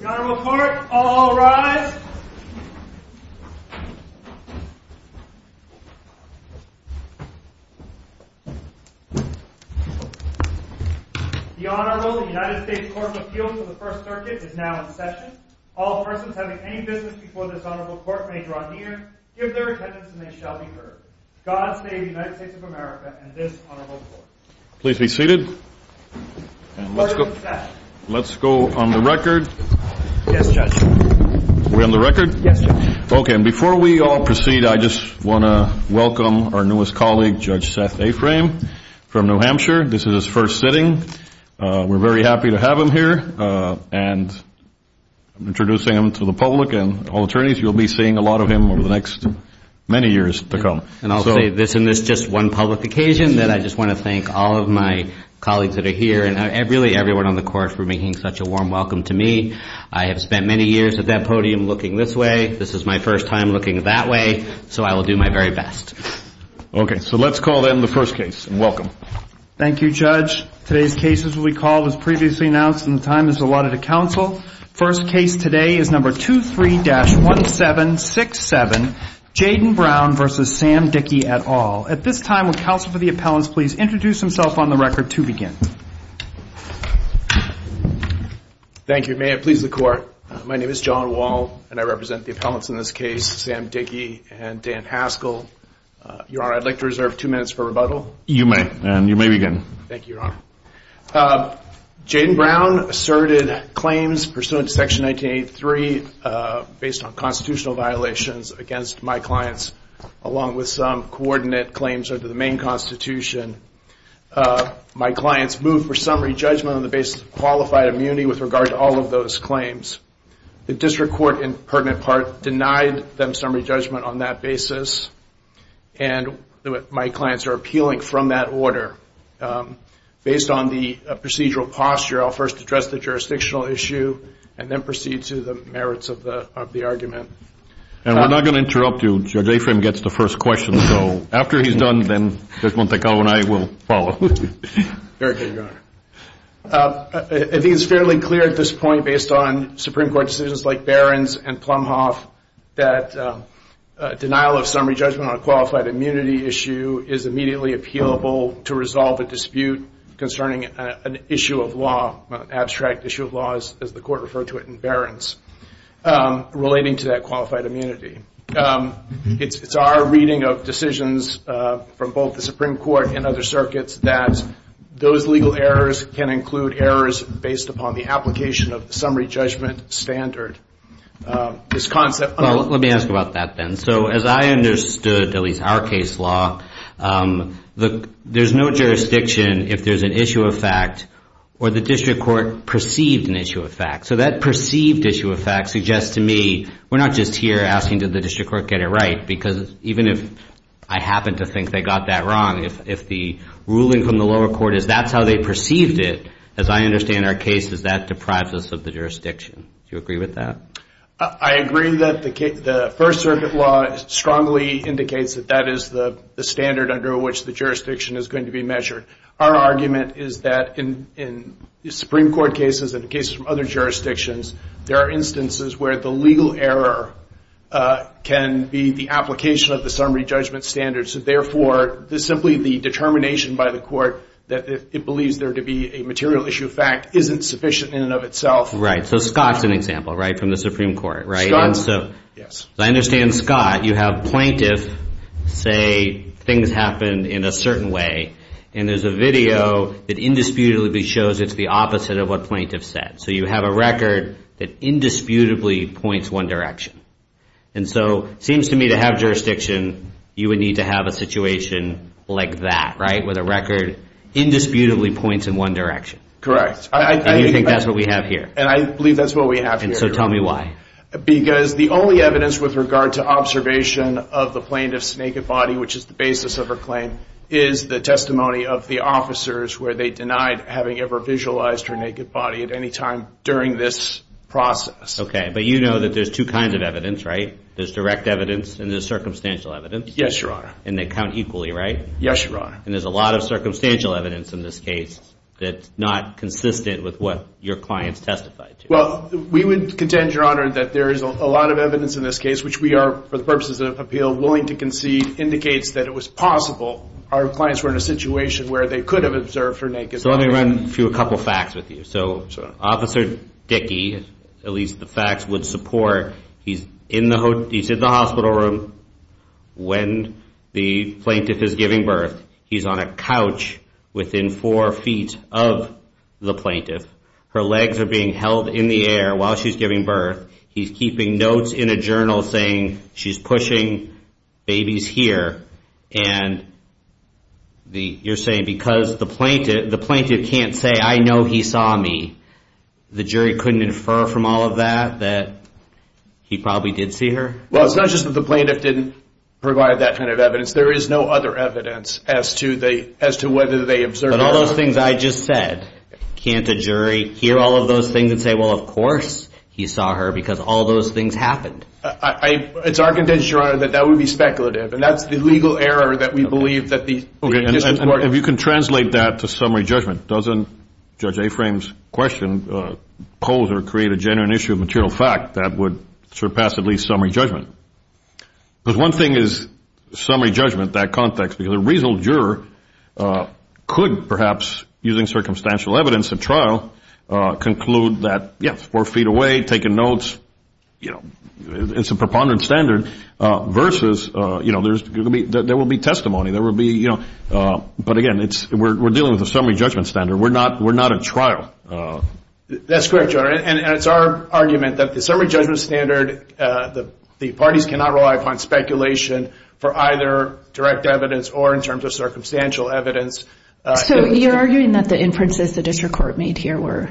The Honorable Court, all rise. The Honorable United States Court of Appeals for the First Circuit is now in session. All persons having any business before this Honorable Court may draw near, give their attendance and they shall be heard. God save the United States of America and this Honorable Court. Please be seated. Let's go on the record. Yes, Judge. We're on the record? Yes, Judge. Okay, and before we all proceed, I just want to welcome our newest colleague, Judge Seth Aframe from New Hampshire. This is his first sitting. We're very happy to have him here, and I'm introducing him to the public and all attorneys. You'll be seeing a lot of him over the next many years to come. And I'll say this, and this is just one public occasion, that I just want to thank all of my colleagues that are here, and really everyone on the Court for making such a warm welcome to me. I have spent many years at that podium looking this way. This is my first time looking that way, so I will do my very best. Okay, so let's call in the first case. Welcome. Thank you, Judge. Today's case, as we recall, was previously announced and the time is allotted to counsel. First case today is number 23-1767, Jaden Brown v. Sam Dickey, et al. At this time, will counsel for the appellants please introduce himself on the record to begin. Thank you. May it please the Court, my name is John Wall, and I represent the appellants in this case, Sam Dickey and Dan Haskell. Your Honor, I'd like to reserve two minutes for rebuttal. You may, and you may begin. Thank you, Your Honor. Jaden Brown asserted claims pursuant to Section 1983 based on constitutional violations against my clients, along with some coordinate claims under the main Constitution. My clients moved for summary judgment on the basis of qualified immunity with regard to all of those claims. The district court in pertinent part denied them summary judgment on that basis, and my clients are appealing from that order. Based on the procedural posture, I'll first address the jurisdictional issue and then proceed to the merits of the argument. And we're not going to interrupt you. Judge Afram gets the first question, so after he's done, then Judge Montecarlo and I will follow. Very good, Your Honor. It is fairly clear at this point, based on Supreme Court decisions like Barron's and Plumhoff, that denial of summary judgment on a qualified immunity issue is immediately appealable to resolve a dispute concerning an issue of law, an abstract issue of law, as the Court referred to it in Barron's, relating to that qualified immunity. It's our reading of decisions from both the Supreme Court and other circuits that those legal errors can include errors based upon the application of the summary judgment standard. Let me ask about that then. So as I understood, at least our case law, there's no jurisdiction if there's an issue of fact or the district court perceived an issue of fact. So that perceived issue of fact suggests to me we're not just here asking did the district court get it right, because even if I happen to think they got that wrong, if the ruling from the lower court is that's how they perceived it, as I understand our case, is that deprives us of the jurisdiction. Do you agree with that? I agree that the First Circuit law strongly indicates that that is the standard under which the jurisdiction is going to be measured. Our argument is that in Supreme Court cases and cases from other jurisdictions, there are instances where the legal error can be the application of the summary judgment standard, so therefore simply the determination by the court that it believes there to be a material issue of fact isn't sufficient in and of itself. Right. So Scott's an example, right, from the Supreme Court, right? Scott, yes. As I understand, Scott, you have plaintiff say things happened in a certain way, and there's a video that indisputably shows it's the opposite of what plaintiff said. So you have a record that indisputably points one direction. And so it seems to me to have jurisdiction, you would need to have a situation like that, right, where the record indisputably points in one direction. Correct. And you think that's what we have here? And I believe that's what we have here. And so tell me why. Because the only evidence with regard to observation of the plaintiff's naked body, which is the basis of her claim, is the testimony of the officers where they denied having ever visualized her naked body at any time during this process. Okay. But you know that there's two kinds of evidence, right? There's direct evidence and there's circumstantial evidence. Yes, Your Honor. And they count equally, right? Yes, Your Honor. And there's a lot of circumstantial evidence in this case that's not consistent with what your clients testified to. Well, we would contend, Your Honor, that there is a lot of evidence in this case, which we are, for the purposes of appeal, willing to concede indicates that it was possible our clients were in a situation where they could have observed her naked body. So let me run through a couple facts with you. So Officer Dickey, at least the facts would support, he's in the hospital room when the plaintiff is giving birth. He's on a couch within four feet of the plaintiff. Her legs are being held in the air while she's giving birth. He's keeping notes in a journal saying she's pushing babies here. And you're saying because the plaintiff can't say, I know he saw me, the jury couldn't infer from all of that that he probably did see her? Well, it's not just that the plaintiff didn't provide that kind of evidence. There is no other evidence as to whether they observed her. But all those things I just said, can't a jury hear all of those things and say, well, of course he saw her, because all those things happened? It's our contention, Your Honor, that that would be speculative. And that's the legal error that we believe that the plaintiff supported. If you can translate that to summary judgment, doesn't Judge Aframe's question pose or create a genuine issue of material fact that would surpass at least summary judgment? Because one thing is summary judgment, that context, because a reasonable juror could perhaps, using circumstantial evidence at trial, conclude that, yes, four feet away, taking notes, you know, it's a preponderant standard, versus, you know, there will be testimony. But, again, we're dealing with a summary judgment standard. We're not at trial. That's correct, Your Honor. And it's our argument that the summary judgment standard, the parties cannot rely upon speculation for either direct evidence or in terms of circumstantial evidence. So you're arguing that the inferences the district court made here were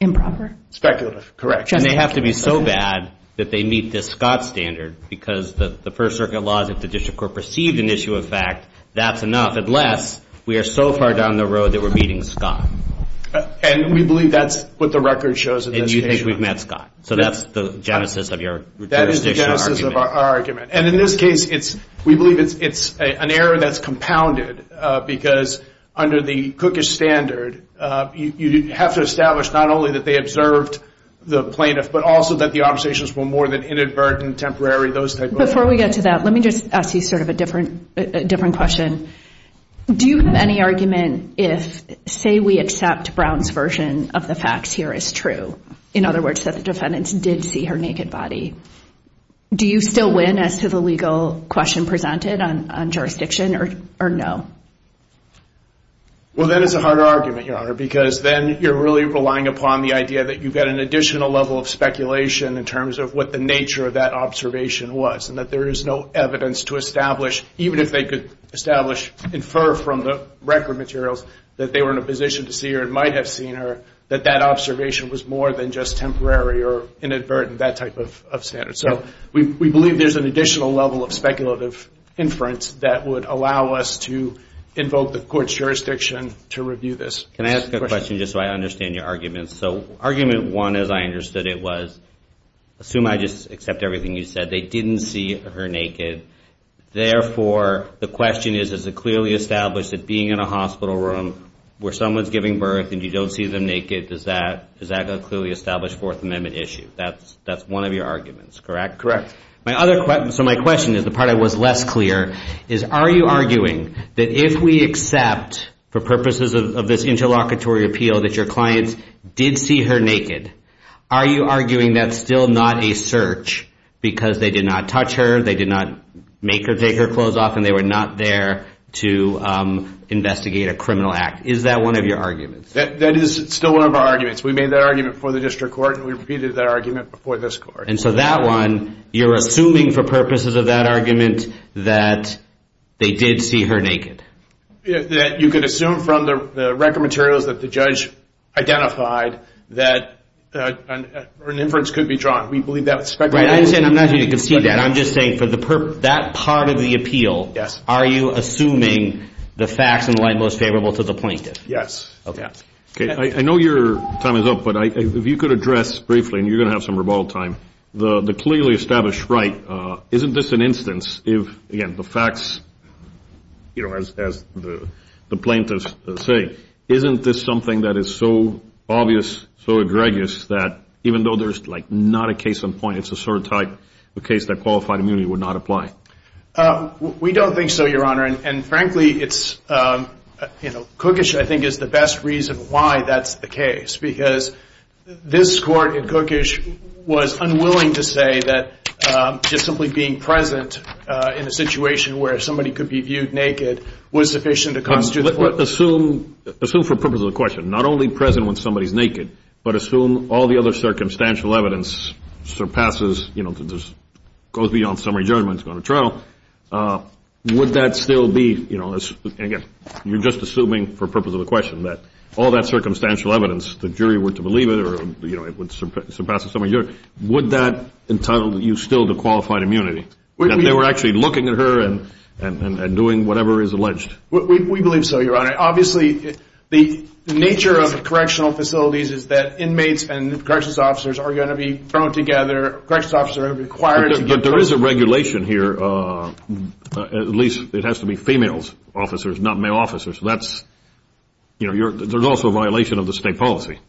improper? Speculative, correct. And they have to be so bad that they meet the Scott standard, because the First Circuit laws, if the district court perceived an issue of fact, that's enough unless we are so far down the road that we're meeting Scott. And we believe that's what the record shows in this case. And you think we've met Scott. So that's the genesis of your jurisdiction argument. That is the genesis of our argument. And in this case, we believe it's an error that's compounded because under the Cookish standard, you have to establish not only that they observed the plaintiff, but also that the observations were more than inadvertent, temporary, those type of things. Before we get to that, let me just ask you sort of a different question. Do you have any argument if, say, we accept Brown's version of the facts here is true, in other words, that the defendants did see her naked body, do you still win as to the legal question presented on jurisdiction or no? Well, that is a hard argument, Your Honor, because then you're really relying upon the idea that you've got an additional level of speculation in terms of what the nature of that observation was and that there is no evidence to establish, even if they could establish, infer from the record materials that they were in a position to see or might have seen her, that that observation was more than just temporary or inadvertent, that type of standard. So we believe there's an additional level of speculative inference that would allow us to invoke the court's jurisdiction to review this. Can I ask a question just so I understand your argument? So argument one, as I understood it, was assume I just accept everything you said. They didn't see her naked. Therefore, the question is, is it clearly established that being in a hospital room where someone's giving birth and you don't see them naked, does that clearly establish Fourth Amendment issue? That's one of your arguments, correct? Correct. So my question is, the part I was less clear, is are you arguing that if we accept for purposes of this interlocutory appeal that your clients did see her naked, are you arguing that's still not a search because they did not touch her, they did not make her take her clothes off, and they were not there to investigate a criminal act? Is that one of your arguments? That is still one of our arguments. We made that argument before the district court, and we repeated that argument before this court. And so that one, you're assuming for purposes of that argument that they did see her naked? That you could assume from the record materials that the judge identified that an inference could be drawn. We believe that with speculation. I'm not here to concede that. I'm just saying for that part of the appeal, are you assuming the facts in light most favorable to the plaintiff? Yes. Okay. I know your time is up, but if you could address briefly, and you're going to have some rebuttal time, the clearly established right, isn't this an instance if, again, the facts, as the plaintiffs say, isn't this something that is so obvious, so egregious, that even though there's not a case on point, it's a sort of type of case that qualified immunity would not apply? We don't think so, Your Honor. And frankly, Cookish, I think, is the best reason why that's the case because this Court, in Cookish, was unwilling to say that just simply being present in a situation where somebody could be viewed naked was sufficient to constitute the court. Assume, for the purpose of the question, not only present when somebody is naked, but assume all the other circumstantial evidence surpasses, goes beyond summary judgment and is going to trial, would that still be, again, you're just assuming for the purpose of the question, that all that circumstantial evidence, the jury were to believe it or it would surpass the summary judgment, would that entitle you still to qualified immunity, that they were actually looking at her and doing whatever is alleged? We believe so, Your Honor. Obviously, the nature of the correctional facilities is that inmates and corrections officers are going to be thrown together. Corrections officers are going to be required to give testimony. But there is a regulation here, at least it has to be female officers, not male officers. That's, you know, there's also a violation of the state policy.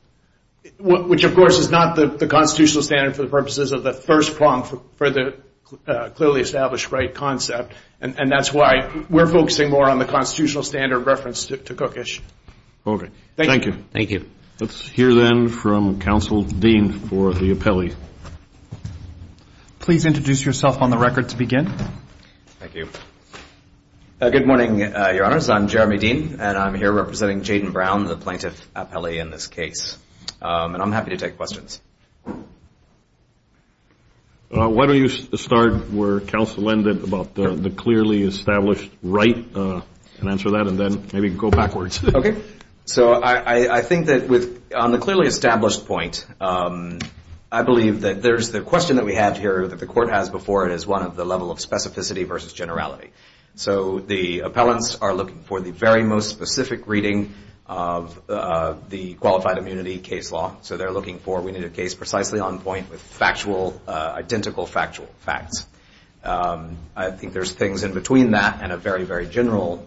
Which, of course, is not the constitutional standard for the purposes of the first prompt for the clearly established right concept, and that's why we're focusing more on the constitutional standard referenced to Cookish. Okay. Thank you. Thank you. Let's hear then from Counsel Dean for the appellee. Please introduce yourself on the record to begin. Thank you. Good morning, Your Honors. I'm Jeremy Dean, and I'm here representing Jaden Brown, the plaintiff appellee in this case. And I'm happy to take questions. Why don't you start where Counsel ended about the clearly established right and answer that, and then maybe go backwards. Okay. So I think that on the clearly established point, I believe that there's the question that we have here that the court has before it is one of the level of specificity versus generality. So the appellants are looking for the very most specific reading of the qualified immunity case law. So they're looking for we need a case precisely on point with factual, identical factual facts. I think there's things in between that and a very, very general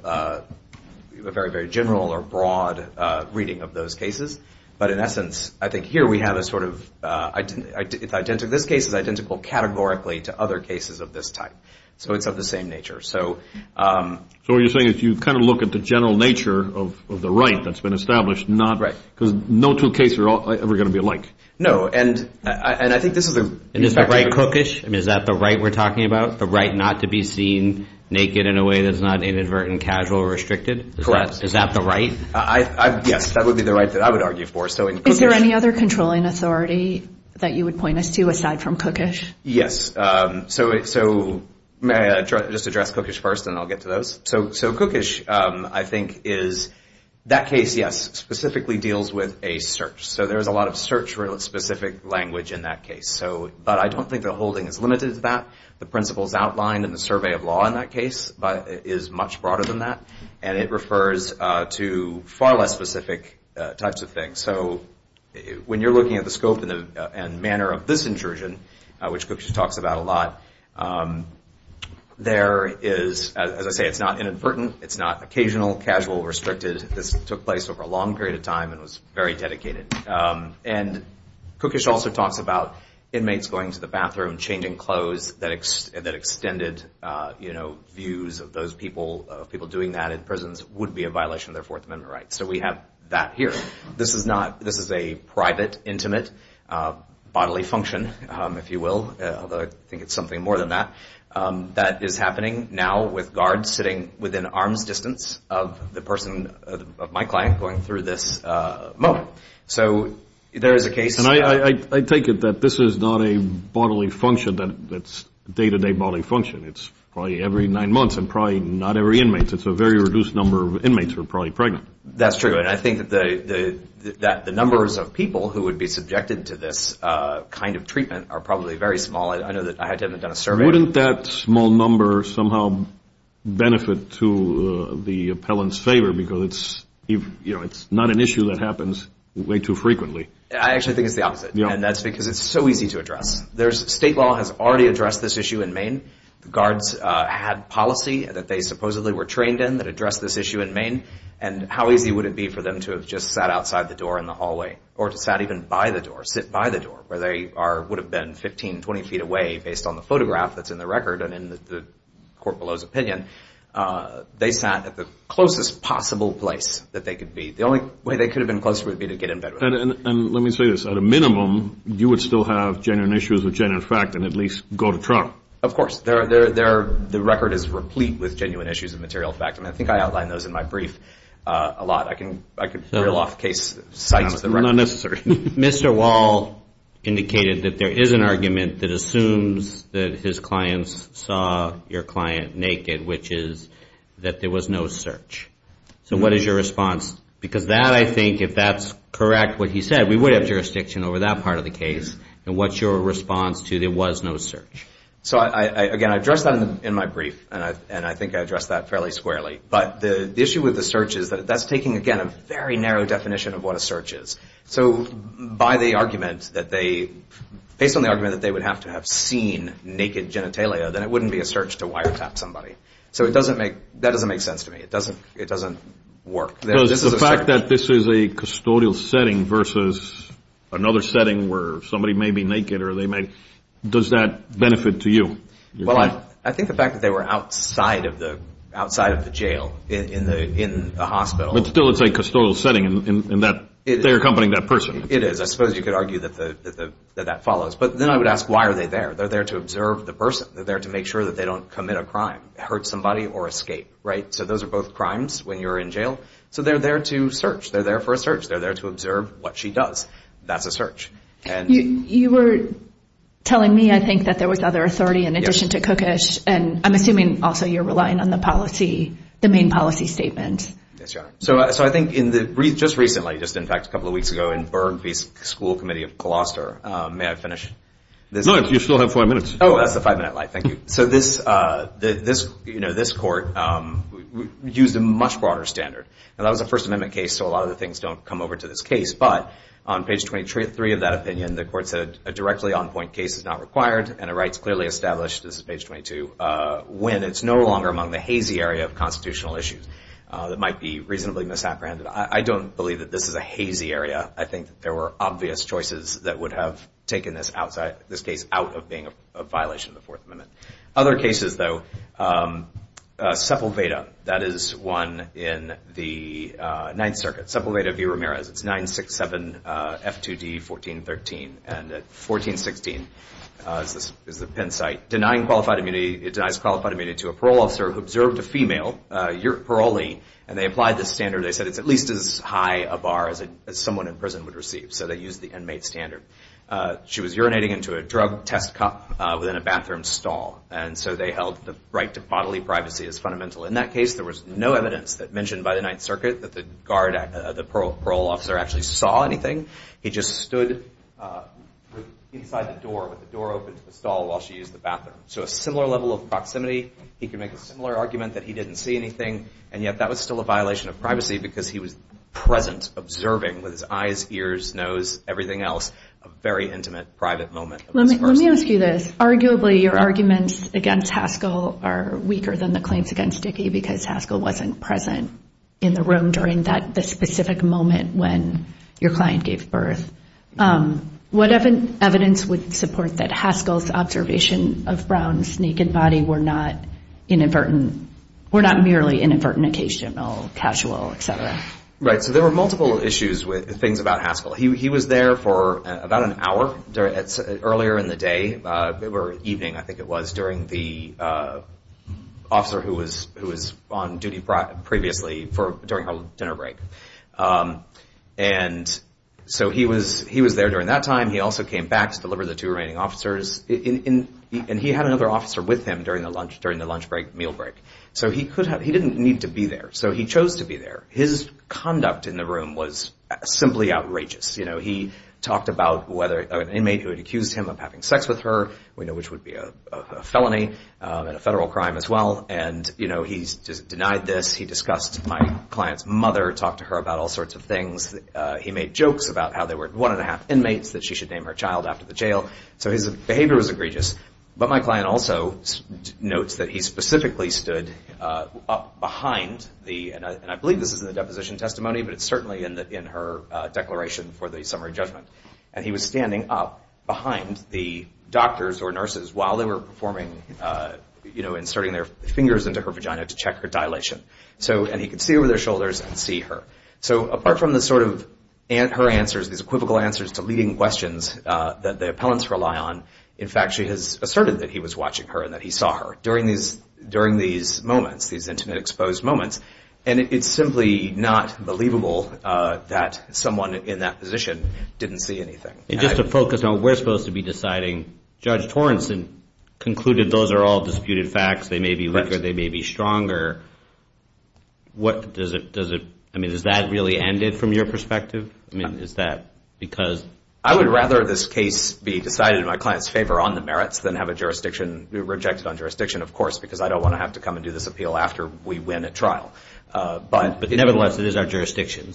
or broad reading of those cases. But in essence, I think here we have a sort of identical. This case is identical categorically to other cases of this type. So it's of the same nature. So what you're saying is you kind of look at the general nature of the right that's been established, because no two cases are ever going to be alike. No. And I think this is a- And is the right cookish? I mean, is that the right we're talking about? The right not to be seen naked in a way that's not inadvertent, casual, or restricted? Correct. Is that the right? Yes, that would be the right that I would argue for. Is there any other controlling authority that you would point us to aside from cookish? Yes. So may I just address cookish first, and I'll get to those? So cookish, I think, is that case, yes, specifically deals with a search. So there's a lot of search for a specific language in that case. But I don't think the holding is limited to that. The principles outlined in the survey of law in that case is much broader than that, and it refers to far less specific types of things. So when you're looking at the scope and manner of this intrusion, which cookish talks about a lot, there is, as I say, it's not inadvertent. It's not occasional, casual, restricted. This took place over a long period of time and was very dedicated. And cookish also talks about inmates going to the bathroom and changing clothes that extended views of those people. People doing that in prisons would be a violation of their Fourth Amendment rights. So we have that here. This is a private, intimate bodily function, if you will, although I think it's something more than that, that is happening now with guards sitting within arm's distance of the person, of my client, going through this moment. So there is a case. And I take it that this is not a bodily function that's a day-to-day bodily function. It's probably every nine months and probably not every inmate. It's a very reduced number of inmates who are probably pregnant. That's true. And I think that the numbers of people who would be subjected to this kind of treatment are probably very small. I know that I had to have done a survey. Wouldn't that small number somehow benefit to the appellant's favor because it's not an issue that happens way too frequently? I actually think it's the opposite. And that's because it's so easy to address. State law has already addressed this issue in Maine. Guards had policy that they supposedly were trained in that addressed this issue in Maine. And how easy would it be for them to have just sat outside the door in the hallway or to sat even by the door, sit by the door where they would have been 15, 20 feet away based on the photograph that's in the record and in the court below's opinion. They sat at the closest possible place that they could be. The only way they could have been closer would be to get in bed with them. And let me say this. At a minimum, you would still have genuine issues with genuine fact and at least go to trial. Of course. The record is replete with genuine issues of material fact. And I think I outlined those in my brief a lot. I could throw off case sites. Not necessary. Mr. Wall indicated that there is an argument that assumes that his clients saw your client naked, which is that there was no search. So what is your response? Because that, I think, if that's correct, what he said, we would have jurisdiction over that part of the case. And what's your response to there was no search? So, again, I addressed that in my brief, and I think I addressed that fairly squarely. But the issue with the search is that that's taking, again, a very narrow definition of what a search is. So based on the argument that they would have to have seen naked genitalia, then it wouldn't be a search to wiretap somebody. So that doesn't make sense to me. It doesn't work. The fact that this is a custodial setting versus another setting where somebody may be naked or they may, does that benefit to you? Well, I think the fact that they were outside of the jail in the hospital. But still it's a custodial setting in that they're accompanying that person. It is. I suppose you could argue that that follows. But then I would ask, why are they there? They're there to observe the person. They're there to make sure that they don't commit a crime, hurt somebody, or escape, right? So those are both crimes when you're in jail. So they're there to search. They're there for a search. They're there to observe what she does. That's a search. You were telling me, I think, that there was other authority in addition to Cookish. And I'm assuming also you're relying on the policy, the main policy statement. Yes, Your Honor. So I think just recently, just in fact a couple of weeks ago, in Burr v. School Committee of Coloster. May I finish? No, you still have five minutes. Oh, that's the five-minute line. Thank you. So this court used a much broader standard. And that was a First Amendment case, so a lot of the things don't come over to this case. But on page 23 of that opinion, the court said a directly on-point case is not required and a right is clearly established, this is page 22, when it's no longer among the hazy area of constitutional issues that might be reasonably misapprehended. I don't believe that this is a hazy area. I think that there were obvious choices that would have taken this case out of being a violation of the Fourth Amendment. Other cases, though, Sepulveda, that is one in the Ninth Circuit, Sepulveda v. Ramirez. It's 967 F2D 1413. And at 1416 is the Penn site, denying qualified immunity, it denies qualified immunity to a parole officer who observed a female, a parolee, and they applied this standard. They said it's at least as high a bar as someone in prison would receive. So they used the inmate standard. She was urinating into a drug test cup within a bathroom stall. And so they held the right to bodily privacy as fundamental. In that case, there was no evidence that mentioned by the Ninth Circuit that the parole officer actually saw anything. He just stood inside the door with the door open to the stall while she used the bathroom. So a similar level of proximity. He could make a similar argument that he didn't see anything, and yet that was still a violation of privacy because he was present, observing with his eyes, ears, nose, everything else, a very intimate, private moment. Let me ask you this. Arguably, your arguments against Haskell are weaker than the claims against Dickey because Haskell wasn't present in the room during that specific moment when your client gave birth. What evidence would support that Haskell's observation of Brown's naked body were not inadvertent, were not merely inadvertent, occasional, casual, et cetera? Right. So there were multiple issues with things about Haskell. He was there for about an hour earlier in the day or evening, I think it was, during the officer who was on duty previously during her dinner break. And so he was there during that time. He also came back to deliver the two remaining officers. And he had another officer with him during the lunch break, meal break. So he didn't need to be there. So he chose to be there. His conduct in the room was simply outrageous. You know, he talked about whether an inmate who had accused him of having sex with her, we know which would be a felony and a federal crime as well. And, you know, he denied this. He discussed my client's mother, talked to her about all sorts of things. He made jokes about how there were one and a half inmates that she should name her child after the jail. So his behavior was egregious. But my client also notes that he specifically stood up behind the, and I believe this is in the deposition testimony, but it's certainly in her declaration for the summary judgment. And he was standing up behind the doctors or nurses while they were performing, you know, inserting their fingers into her vagina to check her dilation. And he could see over their shoulders and see her. So apart from the sort of her answers, these equivocal answers to leading questions that the appellants rely on, in fact, she has asserted that he was watching her and that he saw her during these moments, these intimate exposed moments. And it's simply not believable that someone in that position didn't see anything. And just to focus on, we're supposed to be deciding. Judge Torrenson concluded those are all disputed facts. They may be weaker. They may be stronger. What does it, does it, I mean, has that really ended from your perspective? I mean, is that because? I would rather this case be decided in my client's favor on the merits than have a jurisdiction, rejected on jurisdiction, of course, because I don't want to have to come and do this appeal after we win a trial. But nevertheless, it is our jurisdiction.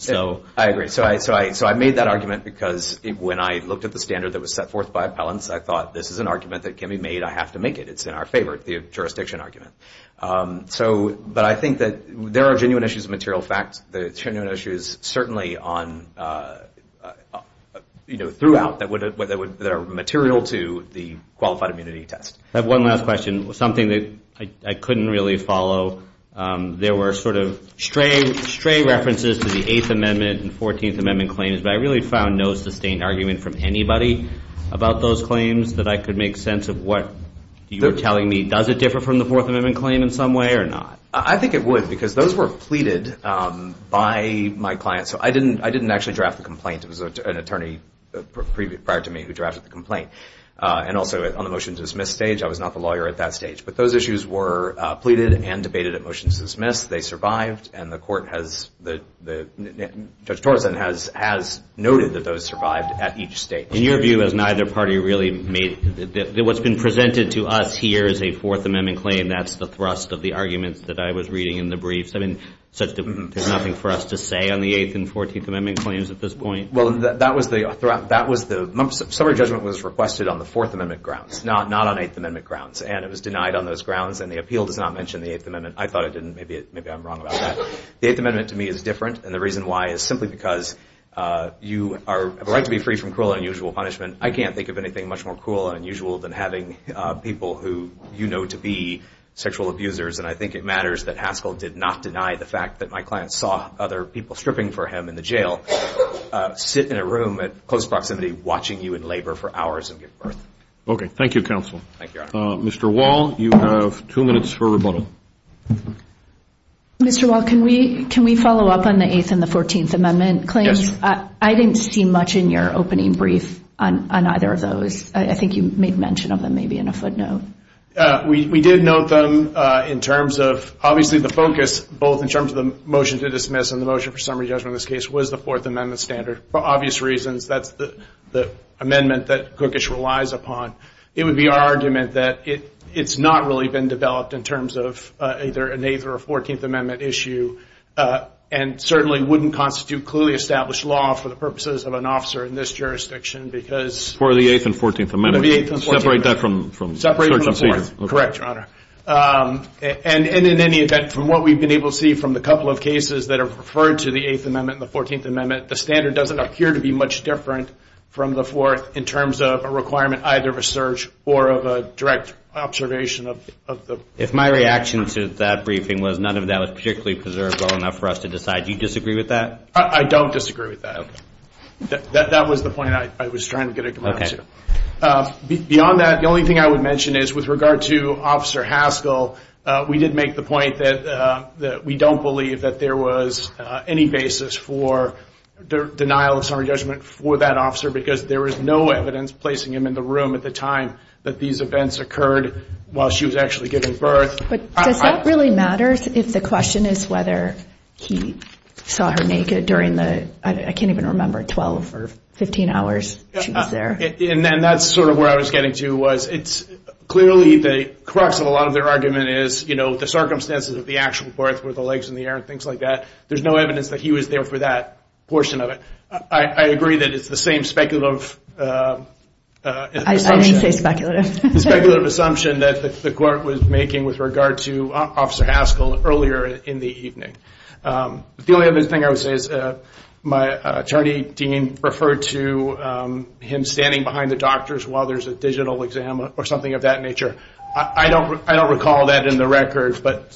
I agree. So I made that argument because when I looked at the standard that was set forth by appellants, I thought this is an argument that can be made. I have to make it. It's in our favor, the jurisdiction argument. But I think that there are genuine issues of material facts. There are genuine issues certainly on, you know, throughout that would, that are material to the qualified immunity test. I have one last question, something that I couldn't really follow. There were sort of stray references to the Eighth Amendment and Fourteenth Amendment claims, but I really found no sustained argument from anybody about those claims that I could make sense of what you were telling me. Does it differ from the Fourth Amendment claim in some way or not? I think it would because those were pleaded by my clients. So I didn't actually draft the complaint. It was an attorney prior to me who drafted the complaint. And also on the motion to dismiss stage, I was not the lawyer at that stage. But those issues were pleaded and debated at motion to dismiss. They survived, and the court has, Judge Torreson has noted that those survived at each stage. In your view, has neither party really made, what's been presented to us here is a Fourth Amendment claim. That's the thrust of the arguments that I was reading in the briefs. I mean, there's nothing for us to say on the Eighth and Fourteenth Amendment claims at this point? Well, that was the, the summary judgment was requested on the Fourth Amendment grounds, not on Eighth Amendment grounds. And it was denied on those grounds, and the appeal does not mention the Eighth Amendment. I thought it didn't. Maybe I'm wrong about that. The Eighth Amendment to me is different, and the reason why is simply because you have a right to be free from cruel and unusual punishment. And I can't think of anything much more cruel and unusual than having people who you know to be sexual abusers. And I think it matters that Haskell did not deny the fact that my client saw other people stripping for him in the jail, sit in a room at close proximity watching you in labor for hours and give birth. Okay. Thank you, counsel. Thank you, Your Honor. Mr. Wall, you have two minutes for rebuttal. Mr. Wall, can we follow up on the Eighth and the Fourteenth Amendment claims? Yes. I didn't see much in your opening brief on either of those. I think you made mention of them maybe in a footnote. We did note them in terms of obviously the focus both in terms of the motion to dismiss and the motion for summary judgment in this case was the Fourth Amendment standard. For obvious reasons, that's the amendment that Cookish relies upon. It would be our argument that it's not really been developed in terms of either an Eighth or a Fourteenth Amendment issue and certainly wouldn't constitute clearly established law for the purposes of an officer in this jurisdiction because For the Eighth and Fourteenth Amendment. Separate that from the Fourth. Correct, Your Honor. And in any event, from what we've been able to see from the couple of cases that are referred to the Eighth Amendment and the Fourteenth Amendment, the standard doesn't appear to be much different from the Fourth in terms of a requirement either of a search or of a direct observation of the My reaction to that briefing was none of that was particularly preserved well enough for us to decide. Do you disagree with that? I don't disagree with that. That was the point I was trying to get at. Beyond that, the only thing I would mention is with regard to Officer Haskell, we did make the point that we don't believe that there was any basis for denial of summary judgment for that officer because there was no evidence placing him in the room at the time that these events occurred while she was actually giving birth. But does that really matter if the question is whether he saw her naked during the I can't even remember, 12 or 15 hours she was there. And that's sort of where I was getting to was it's clearly the crux of a lot of their argument is the circumstances of the actual birth were the legs in the air and things like that. There's no evidence that he was there for that portion of it. I agree that it's the same speculative assumption. I didn't say speculative. Speculative assumption that the court was making with regard to Officer Haskell earlier in the evening. The only other thing I would say is my attorney dean referred to him standing behind the doctors while there's a digital exam or something of that nature. I don't recall that in the record, but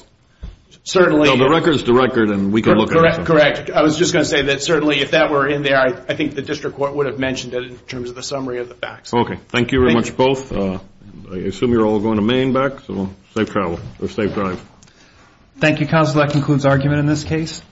certainly. No, the record is the record and we can look at it. Correct. I was just going to say that certainly if that were in there, I think the district court would have mentioned it in terms of the summary of the facts. Okay. Thank you very much both. I assume you're all going to Maine back, so safe travel or safe drive. Thank you, counsel. That concludes argument in this case.